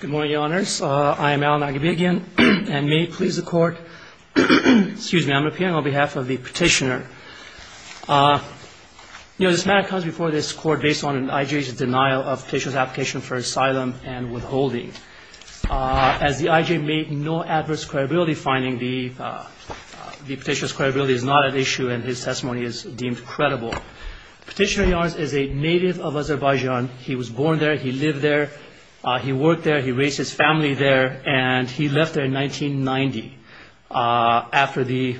Good morning, Your Honors. I am Alan Aghabian, and may it please the Court, excuse me, I'm appearing on behalf of the petitioner. You know, this matter comes before this Court based on an IJ's denial of petitioner's application for asylum and withholding. As the IJ made no adverse credibility finding, the petitioner's credibility is not at issue and his testimony is deemed credible. Petitioner, Your Honors, is a native of Azerbaijan. He was born there, he lived there, he worked there, he raised his family there, and he left there in 1990 after the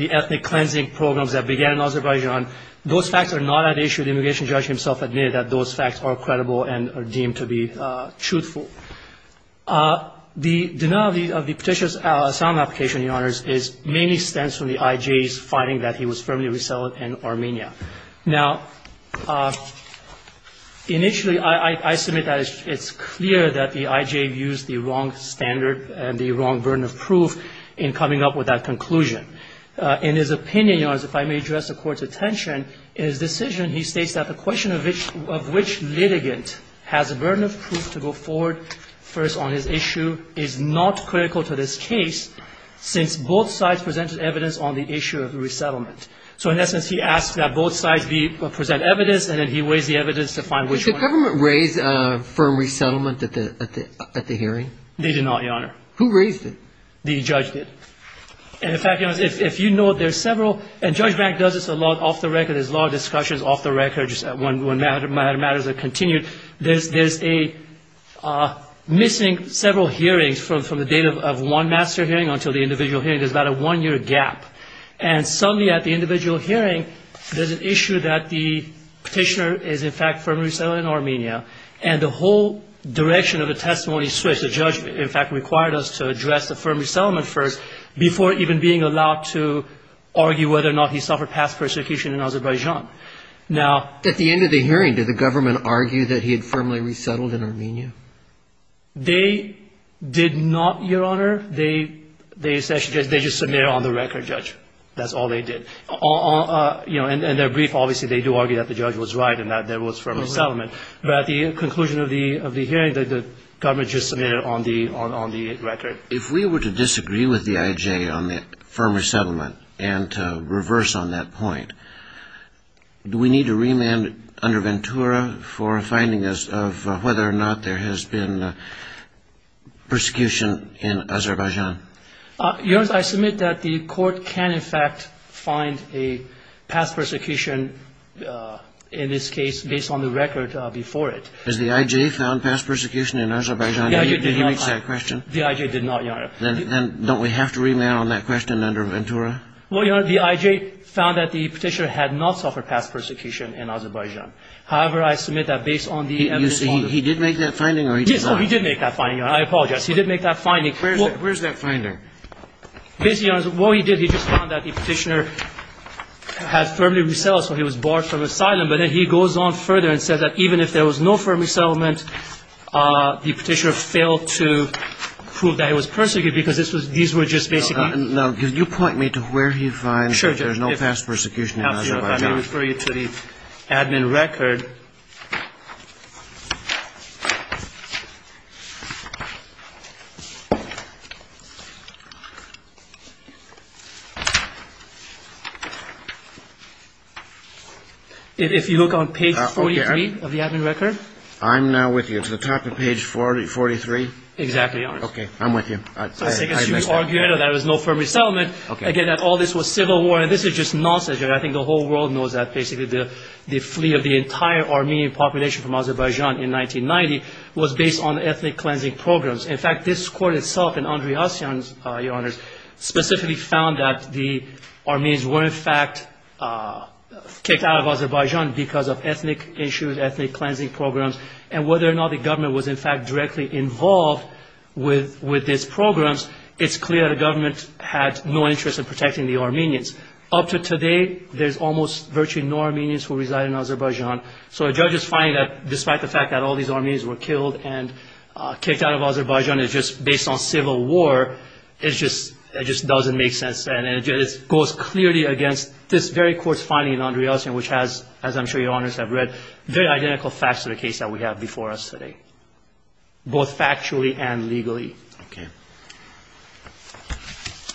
ethnic cleansing programs that began in Azerbaijan. Those facts are not at issue. The immigration judge himself admitted that those facts are credible and are deemed to be truthful. The denial of the petitioner's asylum application, Your Honors, mainly stems from the IJ's finding that he was firmly resettled in Armenia. Now, initially, I submit that it's clear that the IJ used the wrong standard and the wrong burden of proof in coming up with that conclusion. In his opinion, Your Honors, if I may address the Court's attention, in his decision he states that the question of which litigant has a burden of proof to go forward first on his issue is not critical to this case since both sides presented evidence on the issue of resettlement. So, in essence, he asked that both sides present evidence and then he raised the evidence to find which one. Did the government raise a firm resettlement at the hearing? They did not, Your Honor. Who raised it? The judge did. And, in fact, Your Honors, if you know there's several, and Judge Bank does this a lot off the record, there's a lot of discussions off the record when matters are continued, there's a missing several hearings from the date of one master hearing until the individual hearing. There's about a one-year gap. And, suddenly, at the individual hearing, there's an issue that the petitioner is, in fact, firmly resettled in Armenia. And the whole direction of the testimony switched. The judge, in fact, required us to address the firm resettlement first before even being allowed to argue whether or not he suffered past persecution in Azerbaijan. Now, at the end of the hearing, did the government argue that he had firmly resettled in Armenia? They did not, Your Honor. They just submitted it on the record, Judge. That's all they did. And their brief, obviously, they do argue that the judge was right and that there was firm resettlement. But at the conclusion of the hearing, the government just submitted it on the record. If we were to disagree with the IJ on the firm resettlement and reverse on that point, do we need to remand under Ventura for finding us of whether or not there has been persecution in Azerbaijan? Your Honor, I submit that the court can, in fact, find a past persecution in this case based on the record before it. Has the IJ found past persecution in Azerbaijan? Did he make that question? The IJ did not, Your Honor. Then don't we have to remand on that question under Ventura? Well, Your Honor, the IJ found that the petitioner had not suffered past persecution in Azerbaijan. However, I submit that based on the evidence... He did make that finding or he did not? He did make that finding, Your Honor. I apologize. He did make that finding. Where's that finding? Basically, Your Honor, what he did, he just found that the petitioner had firmly resettled, so he was barred from asylum. But then he goes on further and says that even if there was no firm resettlement, the petitioner failed to prove that he was persecuted because these were just basically... Now, can you point me to where he finds that there's no past persecution in Azerbaijan? Let me refer you to the admin record. If you look on page 43 of the admin record, there is no firm resettlement. Again, all this was civil war, and this is just nonsense. I think the whole world knows that basically the flee of the entire Armenian population from Azerbaijan in 1990 was based on ethnic cleansing programs. In fact, this court itself and Andrei Hasyan, Your Honor, specifically found that the Armenians were in fact kicked out of Azerbaijan because of ethnic issues, ethnic cleansing programs, and whether or not the government was in fact directly involved with these programs, it's clear the government had no interest in protecting the Armenians. Up to today, there's almost virtually no Armenians who reside in Azerbaijan. So a judge's finding that despite the fact that all these Armenians were killed and kicked out of Azerbaijan, it's just based on civil war, it just doesn't make sense. It goes clearly against this very court's finding in Andrei Hasyan, which has, as I'm sure Your Honors have read, very identical facts to the case that we have before us today. Both factually and legally. Okay.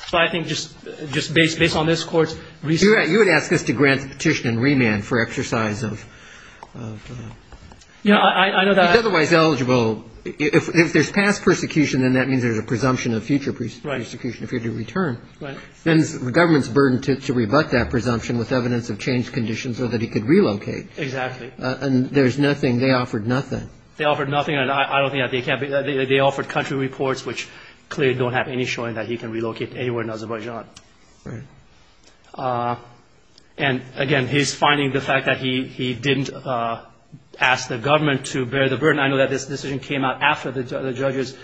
So I think just based on this court's research... You would ask us to grant the petition and remand for exercise of... Yeah, I know that... If otherwise eligible, if there's past persecution, then that means there's a presumption of future persecution if you're to return. Then the government's burdened to rebut that presumption with evidence of changed conditions so that he could relocate. Exactly. And there's nothing, they offered nothing. They offered nothing and I don't think that they can... They offered country reports, which clearly don't have any showing that he can relocate anywhere in Azerbaijan. And again, he's finding the fact that he didn't ask the government to bear the burden. I know that this decision came out after the judge's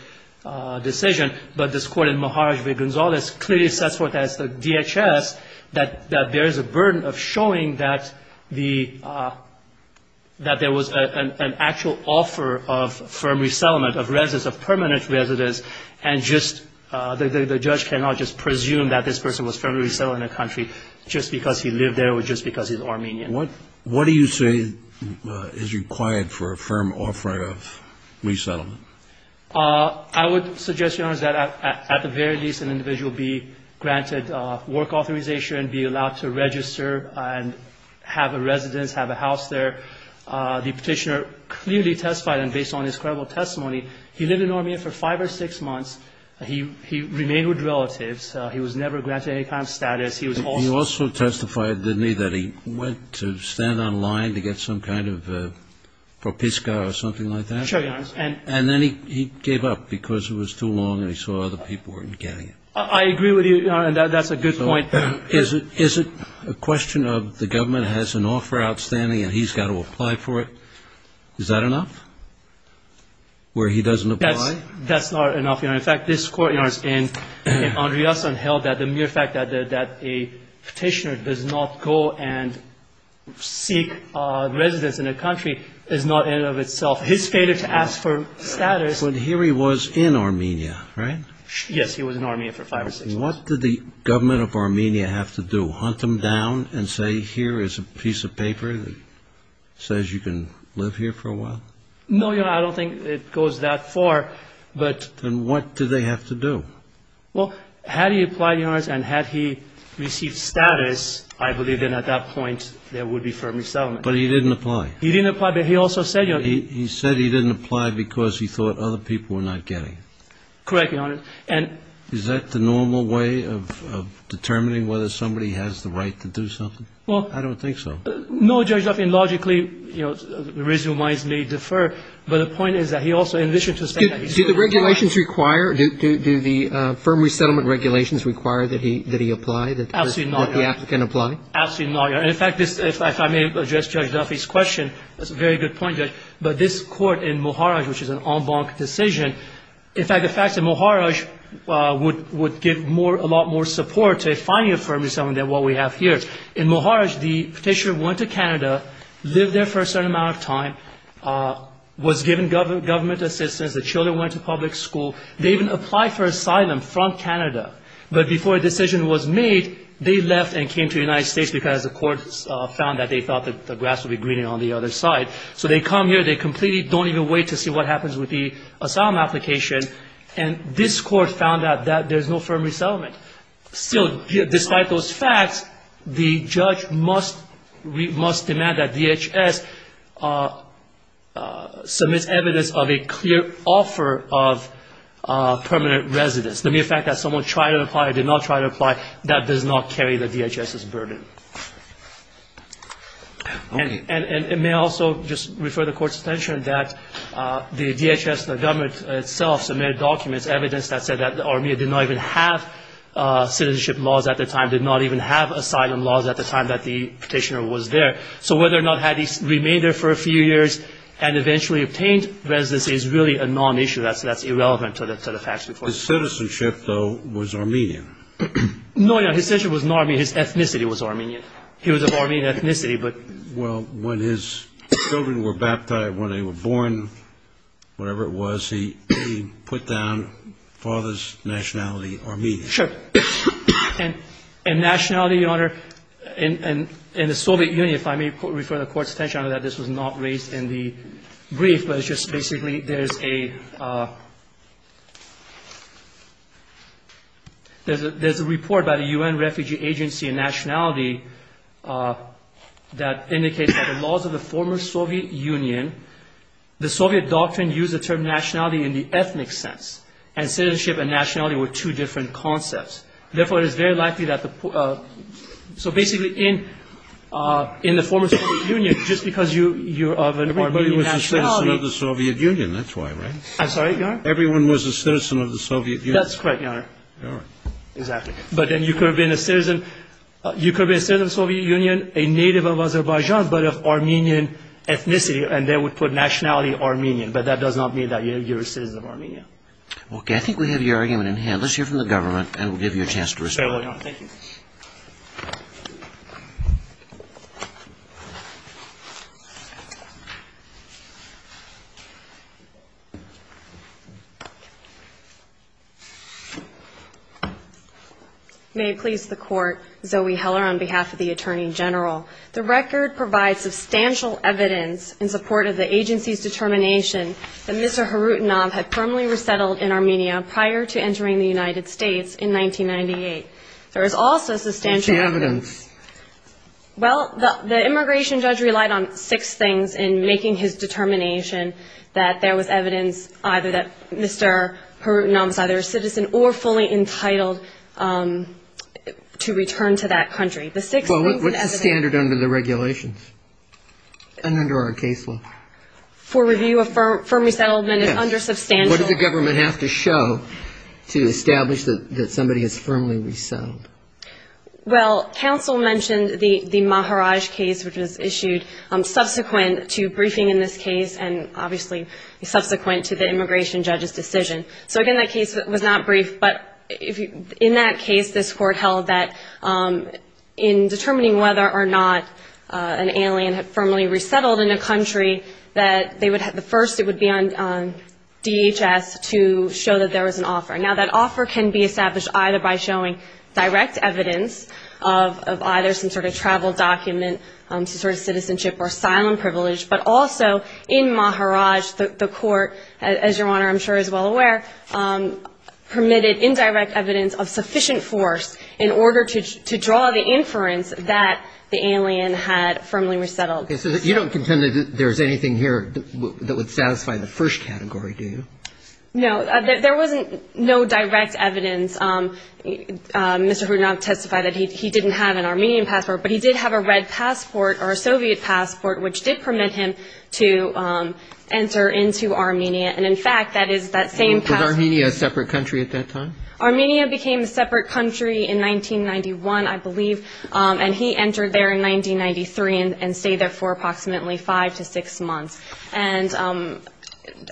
decision, but this court in Maharaj-B. Gonzalez clearly sets forth as the DHS that there is a burden of showing that there was an actual offer of firm resettlement of permanent residents and the judge cannot just presume that this person was firmly resettled in a country just because he lived there or just because he's Armenian. What do you say is required for a firm offer of resettlement? I would suggest, Your Honors, that at the very least an individual be granted work authorization, be allowed to register and have a residence, have a house there. The petitioner clearly testified, and based on his credible testimony, he lived in Armenia for five or six months. He remained with relatives. He was never granted any kind of status. He was also testified, didn't he, that he went to stand on line to get some kind of propiska or something like that? Sure, Your Honors. And then he gave up because it was too long and he saw other people weren't getting it. I agree with you, Your Honor, and that's a good point. Is it a question of the government has an offer outstanding and he's got to apply for it? Is that enough, where he doesn't apply? That's not enough, Your Honor. In fact, this Court, Your Honor, in Andriason, held that the mere fact that a petitioner does not go and seek residence in a country is not in and of itself his failure to ask for status. But here he was in Armenia, right? Yes, he was in Armenia for five or six months. What did the government of Armenia have to do, hunt him down and say, here is a piece of paper that says you can live here for a while? No, Your Honor, I don't think it goes that far, but Then what do they have to do? Well, had he applied, Your Honor, and had he received status, I believe then at that point, there would be firm resettlement. But he didn't apply. He didn't apply, but he also said, You know He said he didn't apply because he thought other people were not getting it. Correct, Your Honor, and Is that the normal way of determining whether somebody has the right to do something? Well, I don't think so. No, Judge Duffy, logically, you know, reasonable minds may defer, but the point is that he also, in addition to saying that he said he didn't apply Do the regulations require, do the firm resettlement regulations require that he apply, that the applicant apply? Absolutely not, Your Honor. In fact, if I may address Judge Duffy's question, that's a very good point, Judge, but this Court in Moharaj, which is an en banc decision, in fact, the fact that Moharaj would give a lot more support to finding a firm resettlement than what we have here. In Moharaj, the petitioner went to Canada, lived there for a certain amount of time, was given government assistance. The children went to public school. They even applied for asylum from Canada. But before a decision was made, they left and came to the United States because the Court found that they thought that the grass would be greener on the other side. So they come here. They completely don't even wait to see what happens with the asylum application. And this Court found out that there's no firm resettlement. Still, despite those facts, the judge must demand that DHS submits evidence of a clear offer of permanent residence. The mere fact that someone tried to apply or did not try to apply, that does not carry the DHS's burden. And it may also just refer the Court's attention that the DHS, the government itself, submitted documents, evidence that said that Armenia did not even have citizenship laws at the time, did not even have asylum laws at the time that the petitioner was there. So whether or not had he remained there for a few years and eventually obtained residence is really a non-issue that's irrelevant to the facts before us. His citizenship, though, was Armenian? No, no, his citizenship was not Armenian. His ethnicity was Armenian. He was of Armenian ethnicity, but... Well, when his children were baptized, when they were born, whatever it was, he put down father's nationality, Armenian. Sure. And nationality, Your Honor, in the Soviet Union, if I may refer the Court's attention to that, this was not raised in the brief, but it's just basically there's a... There's a report by the UN Refugee Agency on nationality that indicates that the laws of the former Soviet Union, the Soviet doctrine used the term nationality in the ethnic sense, and citizenship and nationality were two different concepts. Therefore, it is very likely that the... So basically, in the former Soviet Union, just because you're of an Armenian nationality... He was a citizen of the Soviet Union, that's why, right? I'm sorry, Your Honor? Everyone was a citizen of the Soviet Union. That's correct, Your Honor. Exactly. But then you could have been a citizen of the Soviet Union, a native of Azerbaijan, but of Armenian ethnicity, and they would put nationality, Armenian, but that does not mean that you're a citizen of Armenia. Okay, I think we have your argument in hand. Let's hear from the government, and we'll give you a chance to respond. Thank you. May it please the Court, Zoe Heller on behalf of the Attorney General. The record provides substantial evidence in support of the agency's determination that Mr. Harutanov had firmly resettled in Armenia prior to entering the United States in 1998. There is also substantial... What's the evidence? Well, the immigration judge relied on six things in making his determination that there was evidence either that Mr. Harutanov is either a citizen or fully entitled to return to that country. Well, what's the standard under the regulations and under our case law? For review, a firm resettlement is under substantial... What does the government have to show to establish that somebody has firmly resettled? Well, counsel mentioned the Maharaj case, which was issued subsequent to briefing in this case, and obviously subsequent to the immigration judge's decision. So again, that case was not briefed, but in that case, this Court held that in determining whether or not an alien had firmly resettled in a country, that the first it would be on DHS to show that there was an offer. Now, that offer can be established either by showing direct evidence of either some sort of travel document, some sort of citizenship or asylum privilege, but also in Maharaj, the Court, as Your Honor, I'm sure, is well aware, permitted indirect evidence of sufficient force in order to draw the inference that the alien had firmly resettled. You don't contend that there's anything here that would satisfy the first category, do you? No, there wasn't no direct evidence. Mr. Hrudnok testified that he didn't have an Armenian passport, but he did have a red passport or a Soviet passport, which did permit him to enter into Armenia. And in fact, that is that same passport... Was Armenia a separate country at that time? Armenia became a separate country in 1991, I believe, and he entered there in 1993 and stayed there for approximately five to six months. And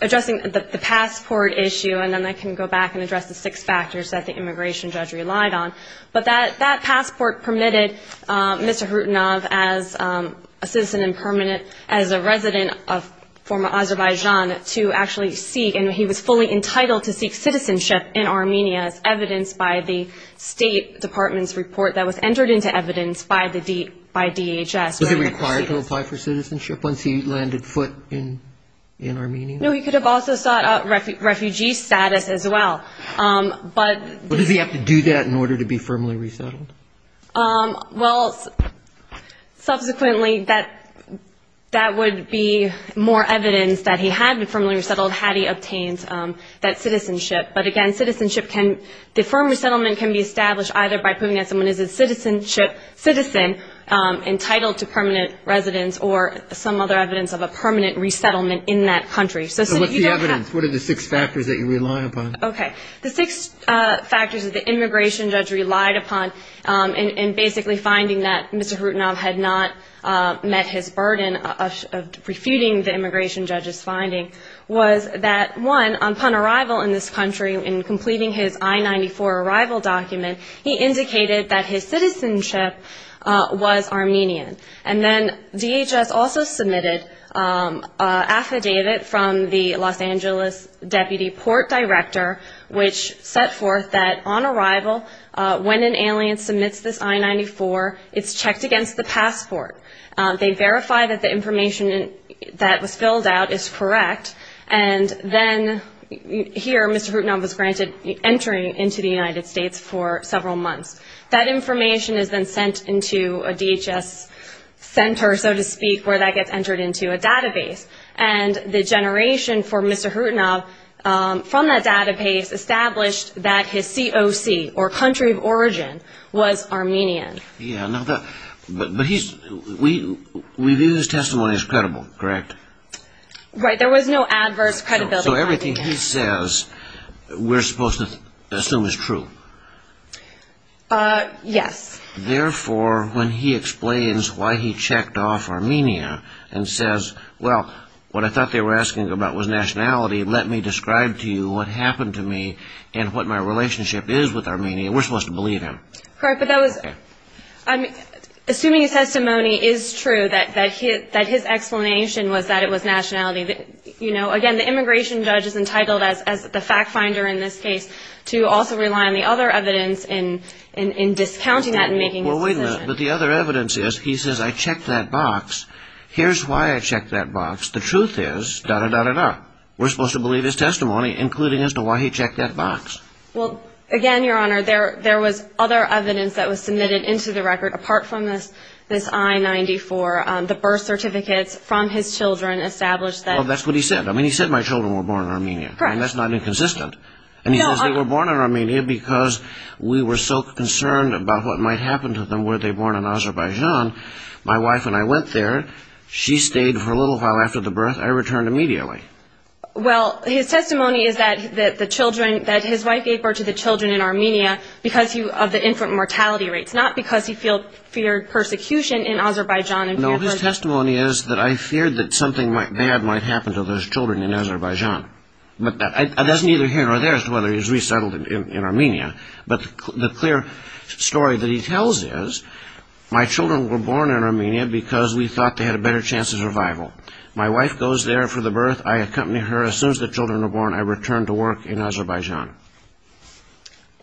addressing the passport issue, and then I can go back and address the six factors that the immigration judge relied on. But that passport permitted Mr. Hrudnok, as a citizen and permanent, as a resident of former Azerbaijan, to actually seek, and he was fully entitled to seek citizenship in Armenia, as evidenced by the State Department's report that was entered into evidence by DHS. Was he required to apply for citizenship once he landed foot in Armenia? No, he could have also sought out refugee status as well. But does he have to do that in order to be firmly resettled? Well, subsequently, that would be more evidence that he had been firmly resettled, had he obtained that citizenship. But again, citizenship can... The firm resettlement can be established either by proving that someone is a citizen, entitled to permanent residence, or some other evidence of a permanent resettlement in that country. So what's the evidence? What are the six factors that you rely upon? Okay. The six factors that the immigration judge relied upon, and basically finding that Mr. Hrudnok had not met his burden of refuting the immigration judge's finding, was that, one, upon arrival in this country, in completing his I-94 arrival document, he indicated that his citizenship was Armenian. And then DHS also submitted an affidavit from the Los Angeles Deputy Port Director, which set forth that on arrival, when an alien submits this I-94, it's checked against the passport. They verify that the information that was filled out is correct. And then here, Mr. Hrudnok was granted entering into the United States for several months. That information is then sent into a DHS center, so to speak, where that gets entered into a database. And the generation for Mr. Hrudnok, from that database, established that his COC, or country of origin, was Armenian. Yeah, but we view his testimony as credible, correct? Right, there was no adverse credibility. So everything he says, we're supposed to assume is true? Yes. Therefore, when he explains why he checked off Armenia, and says, well, what I thought they were asking about was nationality, let me describe to you what happened to me, and what my relationship is with Armenia, we're supposed to believe him. Correct, but assuming his testimony is true, that his explanation was that it was nationality, again, the immigration judge is entitled, as the fact finder in this case, to also rely on the other evidence in discounting that and making his decision. Well, wait a minute. But the other evidence is, he says, I checked that box. Here's why I checked that box. The truth is, da-da-da-da-da. We're supposed to believe his testimony, including as to why he checked that box. Well, again, Your Honor, there was other evidence that was submitted into the record, apart from this I-94. The birth certificates from his children established that. Well, that's what he said. I mean, he said my children were born in Armenia. Correct. And that's not inconsistent. And he says they were born in Armenia because we were so concerned about what might happen to them were they born in Azerbaijan. My wife and I went there. She stayed for a little while after the birth. I returned immediately. Well, his testimony is that his wife gave birth to the children in Armenia because of the infant mortality rates, not because he feared persecution in Azerbaijan. No, his testimony is that I feared that something bad might happen to those children in Azerbaijan. But that's neither his or theirs, whether he's resettled in Armenia. But the clear story that he tells is, my children were born in Armenia because we thought they had a better chance of survival. My wife goes there for the birth. As soon as the children are born, I return to work in Azerbaijan.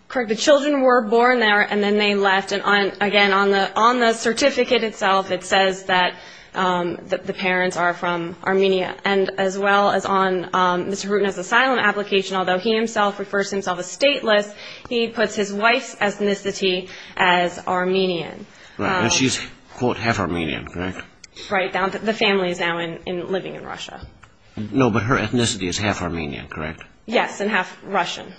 Correct. The children were born there, and then they left. And again, on the certificate itself, it says that the parents are from Armenia. And as well as on Mr. Rutan's asylum application, although he himself refers to himself as stateless, he puts his wife's ethnicity as Armenian. Right. And she's, quote, half Armenian, correct? Right. The family is now living in Russia. No, but her ethnicity is half Armenian, correct? Yes, and half Russian.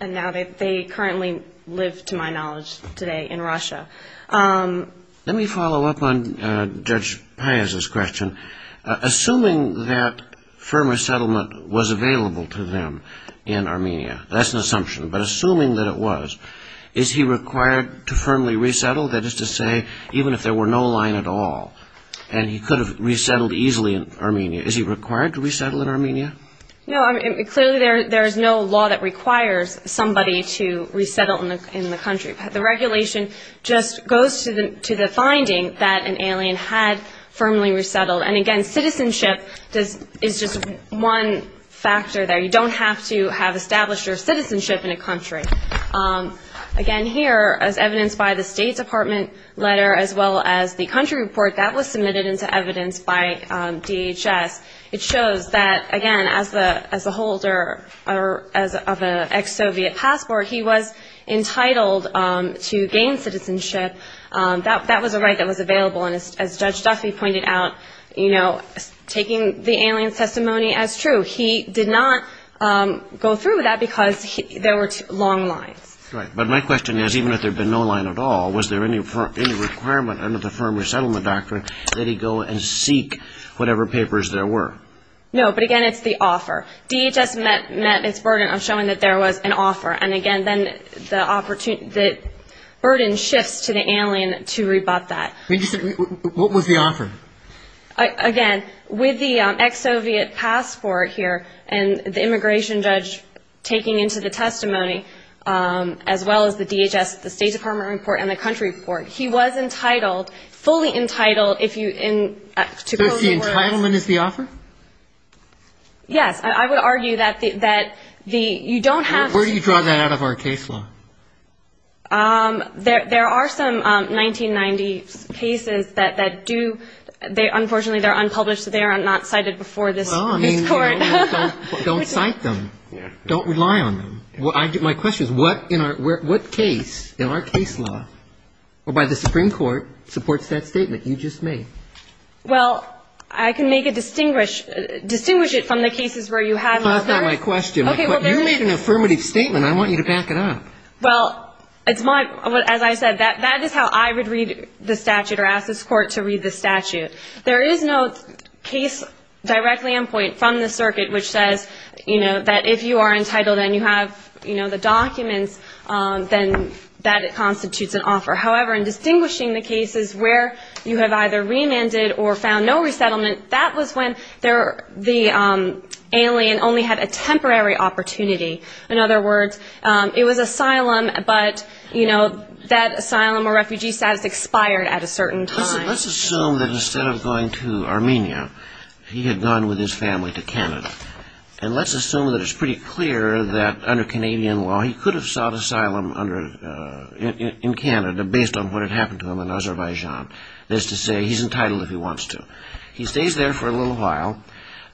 And now they currently live, to my knowledge, today in Russia. Let me follow up on Judge Piazza's question. Assuming that firm resettlement was available to them in Armenia, that's an assumption. But assuming that it was, is he required to firmly resettle? That is to say, even if there were no line at all, and he could have resettled easily in Armenia, is he required to resettle in Armenia? No, clearly there is no law that requires somebody to resettle in the country. The regulation just goes to the finding that an alien had firmly resettled. And again, citizenship is just one factor there. You don't have to have established your citizenship in a country. Again, here, as evidenced by the State Department letter, as well as the country report that was submitted into evidence by DHS, it shows that, again, as a holder of an ex-Soviet passport, he was entitled to gain citizenship. That was a right that was available. And as Judge Duffy pointed out, taking the alien's testimony as true, he did not go through with that because there were long lines. Right. But my question is, even if there had been no line at all, was there any requirement under the firm resettlement doctrine that he go and seek whatever papers there were? No, but again, it's the offer. DHS met its burden of showing that there was an offer. And again, then the burden shifts to the alien to rebut that. What was the offer? Again, with the ex-Soviet passport here, and the immigration judge taking into the testimony, as well as the DHS, the State Department report, and the country report, he was entitled, fully entitled, if you... So the entitlement is the offer? Yes. I would argue that you don't have to... Where do you draw that out of our case law? There are some 1990 cases that do... Unfortunately, they're unpublished, so they are not cited before this court. Don't cite them. Don't rely on them. My question is, what case in our case law, or by the Supreme Court, supports that statement you just made? Well, I can make a distinguish... Distinguish it from the cases where you have... That's not my question. You made an affirmative statement. I want you to back it up. Well, it's my... As I said, that is how I would read the statute, or ask this court to read the statute. There is no case directly on point from the circuit, which says that if you are entitled, and you have the documents, then that constitutes an offer. However, in distinguishing the cases where you have either remanded, or found no resettlement, that was when the alien only had a temporary opportunity. In other words, it was asylum, but that asylum or refugee status expired at a certain time. Let's assume that instead of going to Armenia, he had gone with his family to Canada. And let's assume that it's pretty clear that under Canadian law, he could have sought asylum in Canada, based on what had happened to him in Azerbaijan. That is to say, he's entitled if he wants to. He stays there for a little while,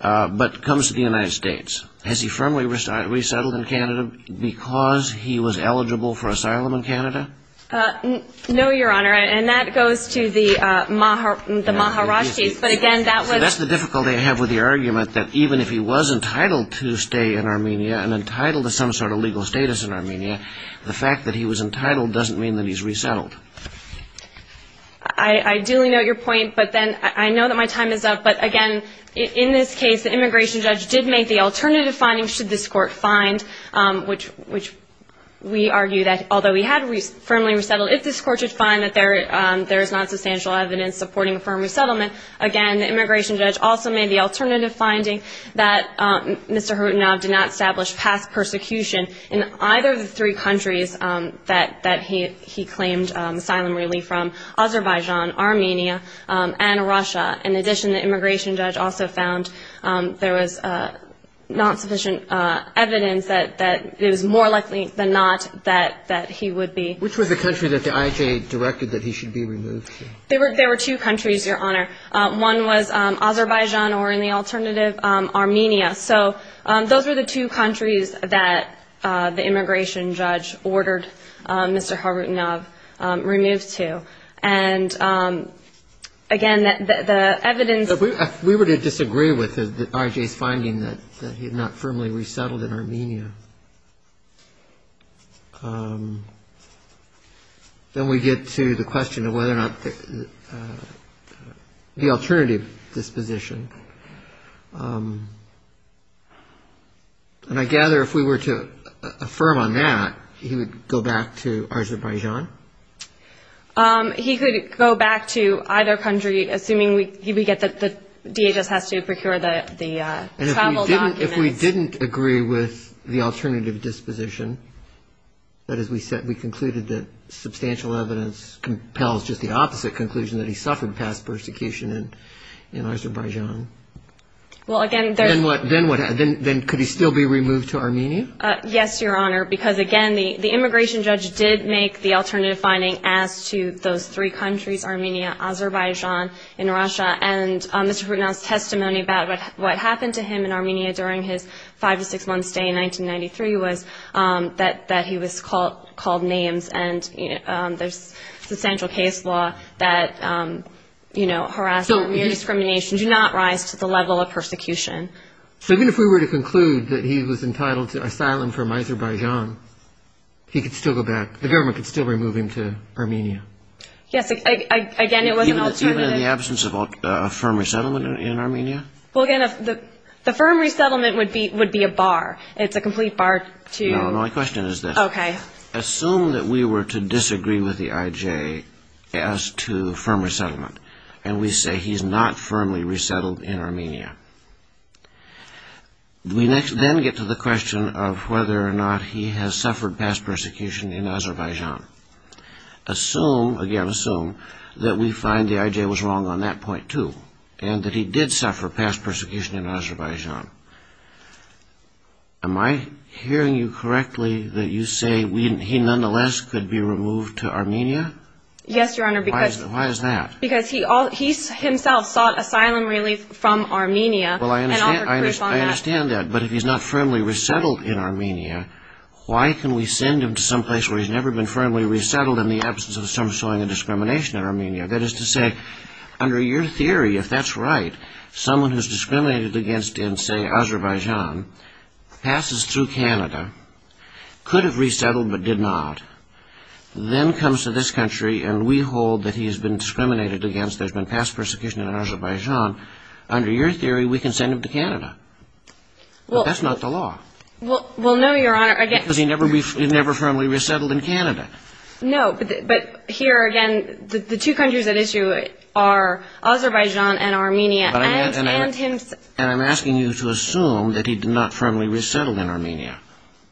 but comes to the United States. Has he firmly resettled in Canada because he was eligible for asylum in Canada? No, Your Honor, and that goes to the Maharajahs, but again, that was... That's the difficulty I have with the argument, that even if he was entitled to stay in Armenia, and entitled to some sort of legal status in Armenia, the fact that he was entitled doesn't mean that he's resettled. I do know your point, but then I know that my time is up. But again, in this case, the immigration judge did make the alternative finding, should this court find, which we argue that although he had firmly resettled, if this court should find that there is not substantial evidence supporting a firm resettlement, again, the immigration judge also made the alternative finding that Mr. Kharitonov did not establish past persecution in either of the three countries that he claimed asylum relief from, Azerbaijan, Armenia, and Russia. In addition, the immigration judge also found there was not sufficient evidence that it was more likely than not that he would be... Which was the country that the IJ directed that he should be removed to? There were two countries, Your Honor. One was Azerbaijan, or in the alternative, Armenia. So those were the two countries that the immigration judge ordered Mr. Kharitonov removed to. And again, the evidence... If we were to disagree with the IJ's finding that he had not firmly resettled in Armenia, then we get to the question of whether or not... The alternative disposition. And I gather if we were to affirm on that, he would go back to Azerbaijan? He could go back to either country, assuming we get that the DHS has to procure the travel documents. And if we didn't agree with the alternative disposition, that is, we concluded that substantial evidence compels just the opposite conclusion that he suffered past persecution in Azerbaijan. Well, again... Then what? Then could he still be removed to Armenia? Yes, Your Honor. Because again, the immigration judge did make the alternative finding as to those three countries, Armenia, Azerbaijan, and Russia. And Mr. Kharitonov's testimony about what happened to him in Armenia during his five to six-month stay in 1993 was that he was called names. And there's substantial case law that, you know, harassment and discrimination do not rise to the level of persecution. So even if we were to conclude that he was entitled to asylum from Azerbaijan, he could still go back, the government could still remove him to Armenia? Yes, again, it was an alternative... Even in the absence of a firm resettlement in Armenia? Well, again, the firm resettlement would be a bar. It's a complete bar to... No, my question is this. Okay. Assume that we were to disagree with the IJ as to firm resettlement, and we say he's not firmly resettled in Armenia. We then get to the question of whether or not he has suffered past persecution in Azerbaijan. Assume, again assume, that we find the IJ was wrong on that point too, and that he did suffer past persecution in Azerbaijan. Am I hearing you correctly that you say he nonetheless could be removed to Armenia? Yes, Your Honor, because... Why is that? Because he himself sought asylum relief from Armenia. Well, I understand that, but if he's not firmly resettled in Armenia, why can we send him to some place where he's never been firmly resettled in the absence of some showing of discrimination in Armenia? That is to say, under your theory, if that's right, someone who's discriminated against in, say, Azerbaijan, passes through Canada, could have resettled but did not, then comes to this country, and we hold that he has been discriminated against, there's been past persecution in Azerbaijan, under your theory, we can send him to Canada. That's not the law. Well, no, Your Honor, again... Because he never firmly resettled in Canada. No, but here again, the two countries at issue are Azerbaijan and Armenia. And I'm asking you to assume that he did not firmly resettle in Armenia.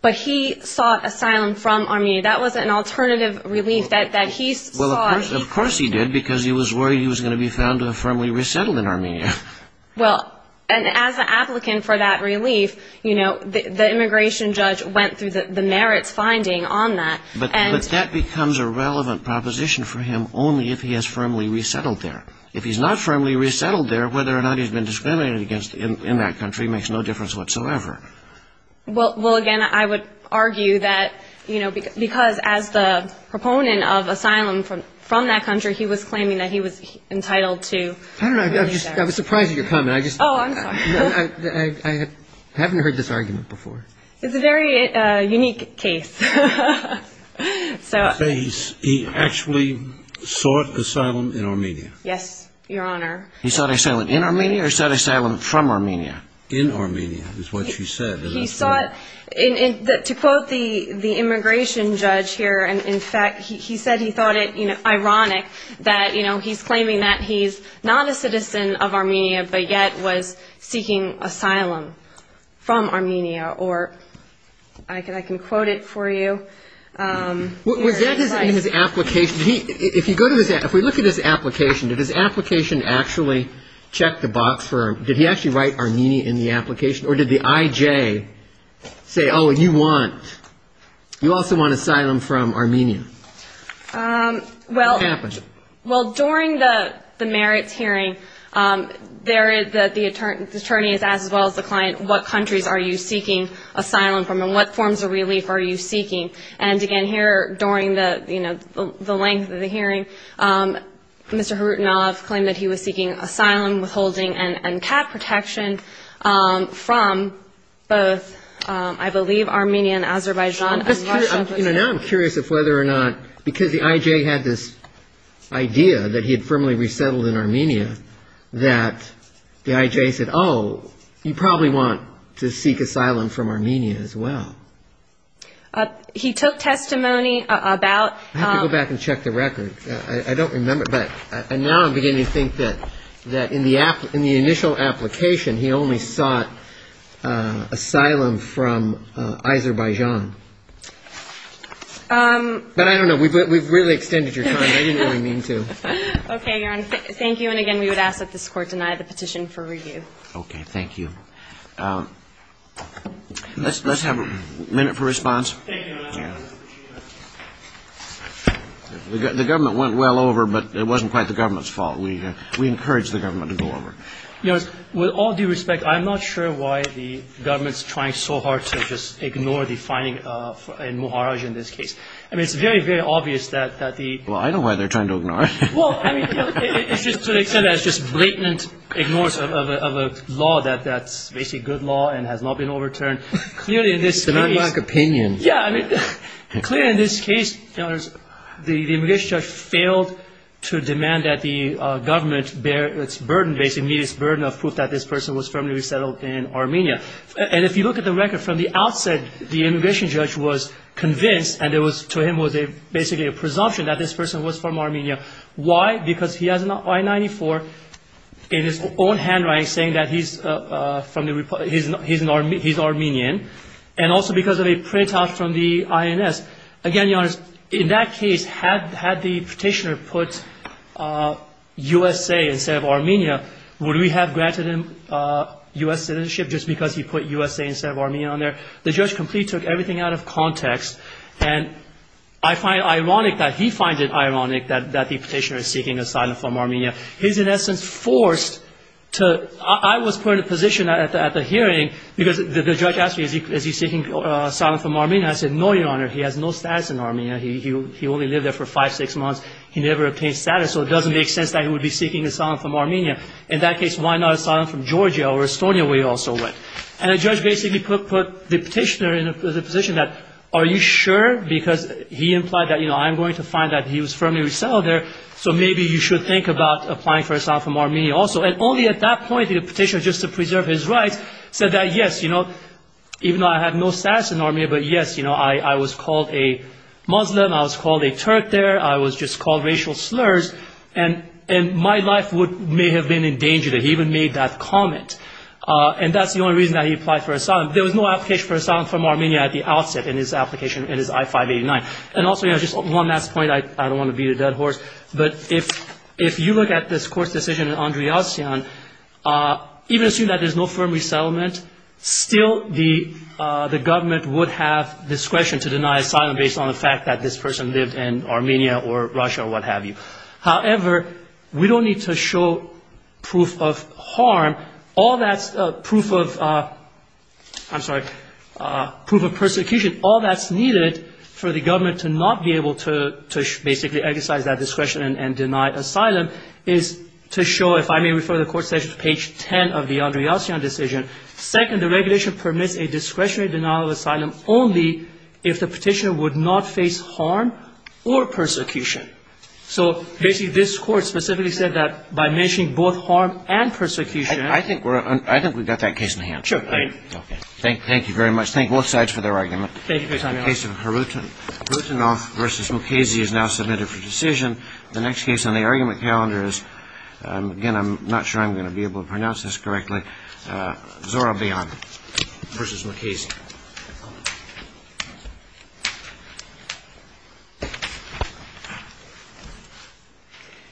But he sought asylum from Armenia. That was an alternative relief that he sought. Of course he did, because he was worried he was going to be found to have firmly resettled in Armenia. Well, and as an applicant for that relief, you know, the immigration judge went through the merits finding on that. But that becomes a relevant proposition for him only if he has firmly resettled there. If he's not firmly resettled there, whether or not he's been discriminated against in that country makes no difference whatsoever. Well, again, I would argue that, you know, because as the proponent of asylum from that country, he was claiming that he was entitled to... I don't know, I was surprised at your comment. I just... Oh, I'm sorry. I haven't heard this argument before. It's a very unique case. So he actually sought asylum in Armenia. Yes, Your Honor. He sought asylum in Armenia or sought asylum from Armenia? In Armenia is what you said. He sought... To quote the immigration judge here. And in fact, he said he thought it, you know, ironic that, you know, he's claiming that he's not a citizen of Armenia, but yet was seeking asylum from Armenia. Or I can quote it for you. Was that in his application? If you go to his... If we look at his application, did his application actually check the box for... Did he actually write Armenia in the application? Or did the IJ say, oh, you want... You also want asylum from Armenia? Well... What happened? Well, during the merits hearing, there is that the attorney has asked, as well as the client, what countries are you seeking asylum from? And what forms of relief are you seeking? And again, here during the, you know, the length of the hearing, Mr. Kharitonov claimed that he was seeking asylum, withholding and cap protection from both, I believe, Armenia and Azerbaijan and Russia. You know, now I'm curious if whether or not, because the IJ had this idea that he had firmly resettled in Armenia, that the IJ said, oh, you probably want to seek asylum from Armenia as well. He took testimony about... I have to go back and check the record. I don't remember. But now I'm beginning to think that, that in the initial application, he only sought asylum from Azerbaijan. But I don't know. We've really extended your time. I didn't really mean to. Okay, Aaron. Thank you. And again, we would ask that this court deny the petition for review. Okay. Thank you. Let's have a minute for response. The government went well over, but it wasn't quite the government's fault. We encourage the government to go over. With all due respect, I'm not sure why the government's trying so hard to just ignore the finding in Muharaj in this case. I mean, it's very, very obvious that the... Well, I know why they're trying to ignore it. Well, I mean, it's just to the extent that it's just blatant ignorance of a law that that's basically a good law and has not been overturned. Clearly, in this case... Demand lack opinion. Yeah, I mean, clearly in this case, the immigration judge failed to demand that the government bear its burden of proof that this person was firmly resettled in Armenia. And if you look at the record from the outset, the immigration judge was convinced and to him was basically a presumption that this person was from Armenia. Why? Because he has an I-94 in his own handwriting saying that he's Armenian. And also because of a printout from the INS. Again, Your Honor, in that case, had the petitioner put USA instead of Armenia, would we have granted him US citizenship just because he put USA instead of Armenia on there? The judge completely took everything out of context. And I find it ironic that he finds it ironic that the petitioner is seeking asylum from Armenia. He's in essence forced to... I was put in a position at the hearing because the judge asked me, is he seeking asylum from Armenia? I said, no, Your Honor, he has no status in Armenia. He only lived there for five, six months. He never obtained status. So it doesn't make sense that he would be seeking asylum from Armenia. In that case, why not asylum from Georgia or Estonia where he also went? And the judge basically put the petitioner in a position that, are you sure? Because he implied that I'm going to find that he was firmly resettled there. So maybe you should think about applying for asylum from Armenia also. And only at that point did the petitioner, just to preserve his rights, said that, yes, even though I had no status in Armenia, but yes, I was called a Muslim. I was called a Turk there. I was just called racial slurs. And my life may have been in danger that he even made that comment. And that's the only reason that he applied for asylum. There was no application for asylum from Armenia at the outset in his application, in his I-589. And also, just one last point. I don't want to beat a dead horse. But if you look at this court's decision in Andryasyan, even assuming that there's no firm resettlement, still the government would have discretion to deny asylum based on the fact that this person lived in Armenia or Russia or what have you. However, we don't need to show proof of harm. All that's proof of, I'm sorry, proof of persecution. All that's needed for the government to not be able to basically exercise that discretion and deny asylum is to show, if I may refer the court session to page 10 of the Andryasyan decision. Second, the regulation permits a discretionary denial of asylum only if the petitioner would not face harm or persecution. So basically, this court specifically said that by mentioning both harm and persecution. I think we're, I think we've got that case in hand. Sure, thank you. Okay, thank you very much. Thank both sides for their argument. Thank you for your time, Your Honor. The case of Herutinov v. Mukhazy is now submitted for decision. The next case on the argument calendar is, again, I'm not sure I'm going to be able to pronounce this correctly, Zorabian v. Mukhazy. Thank you.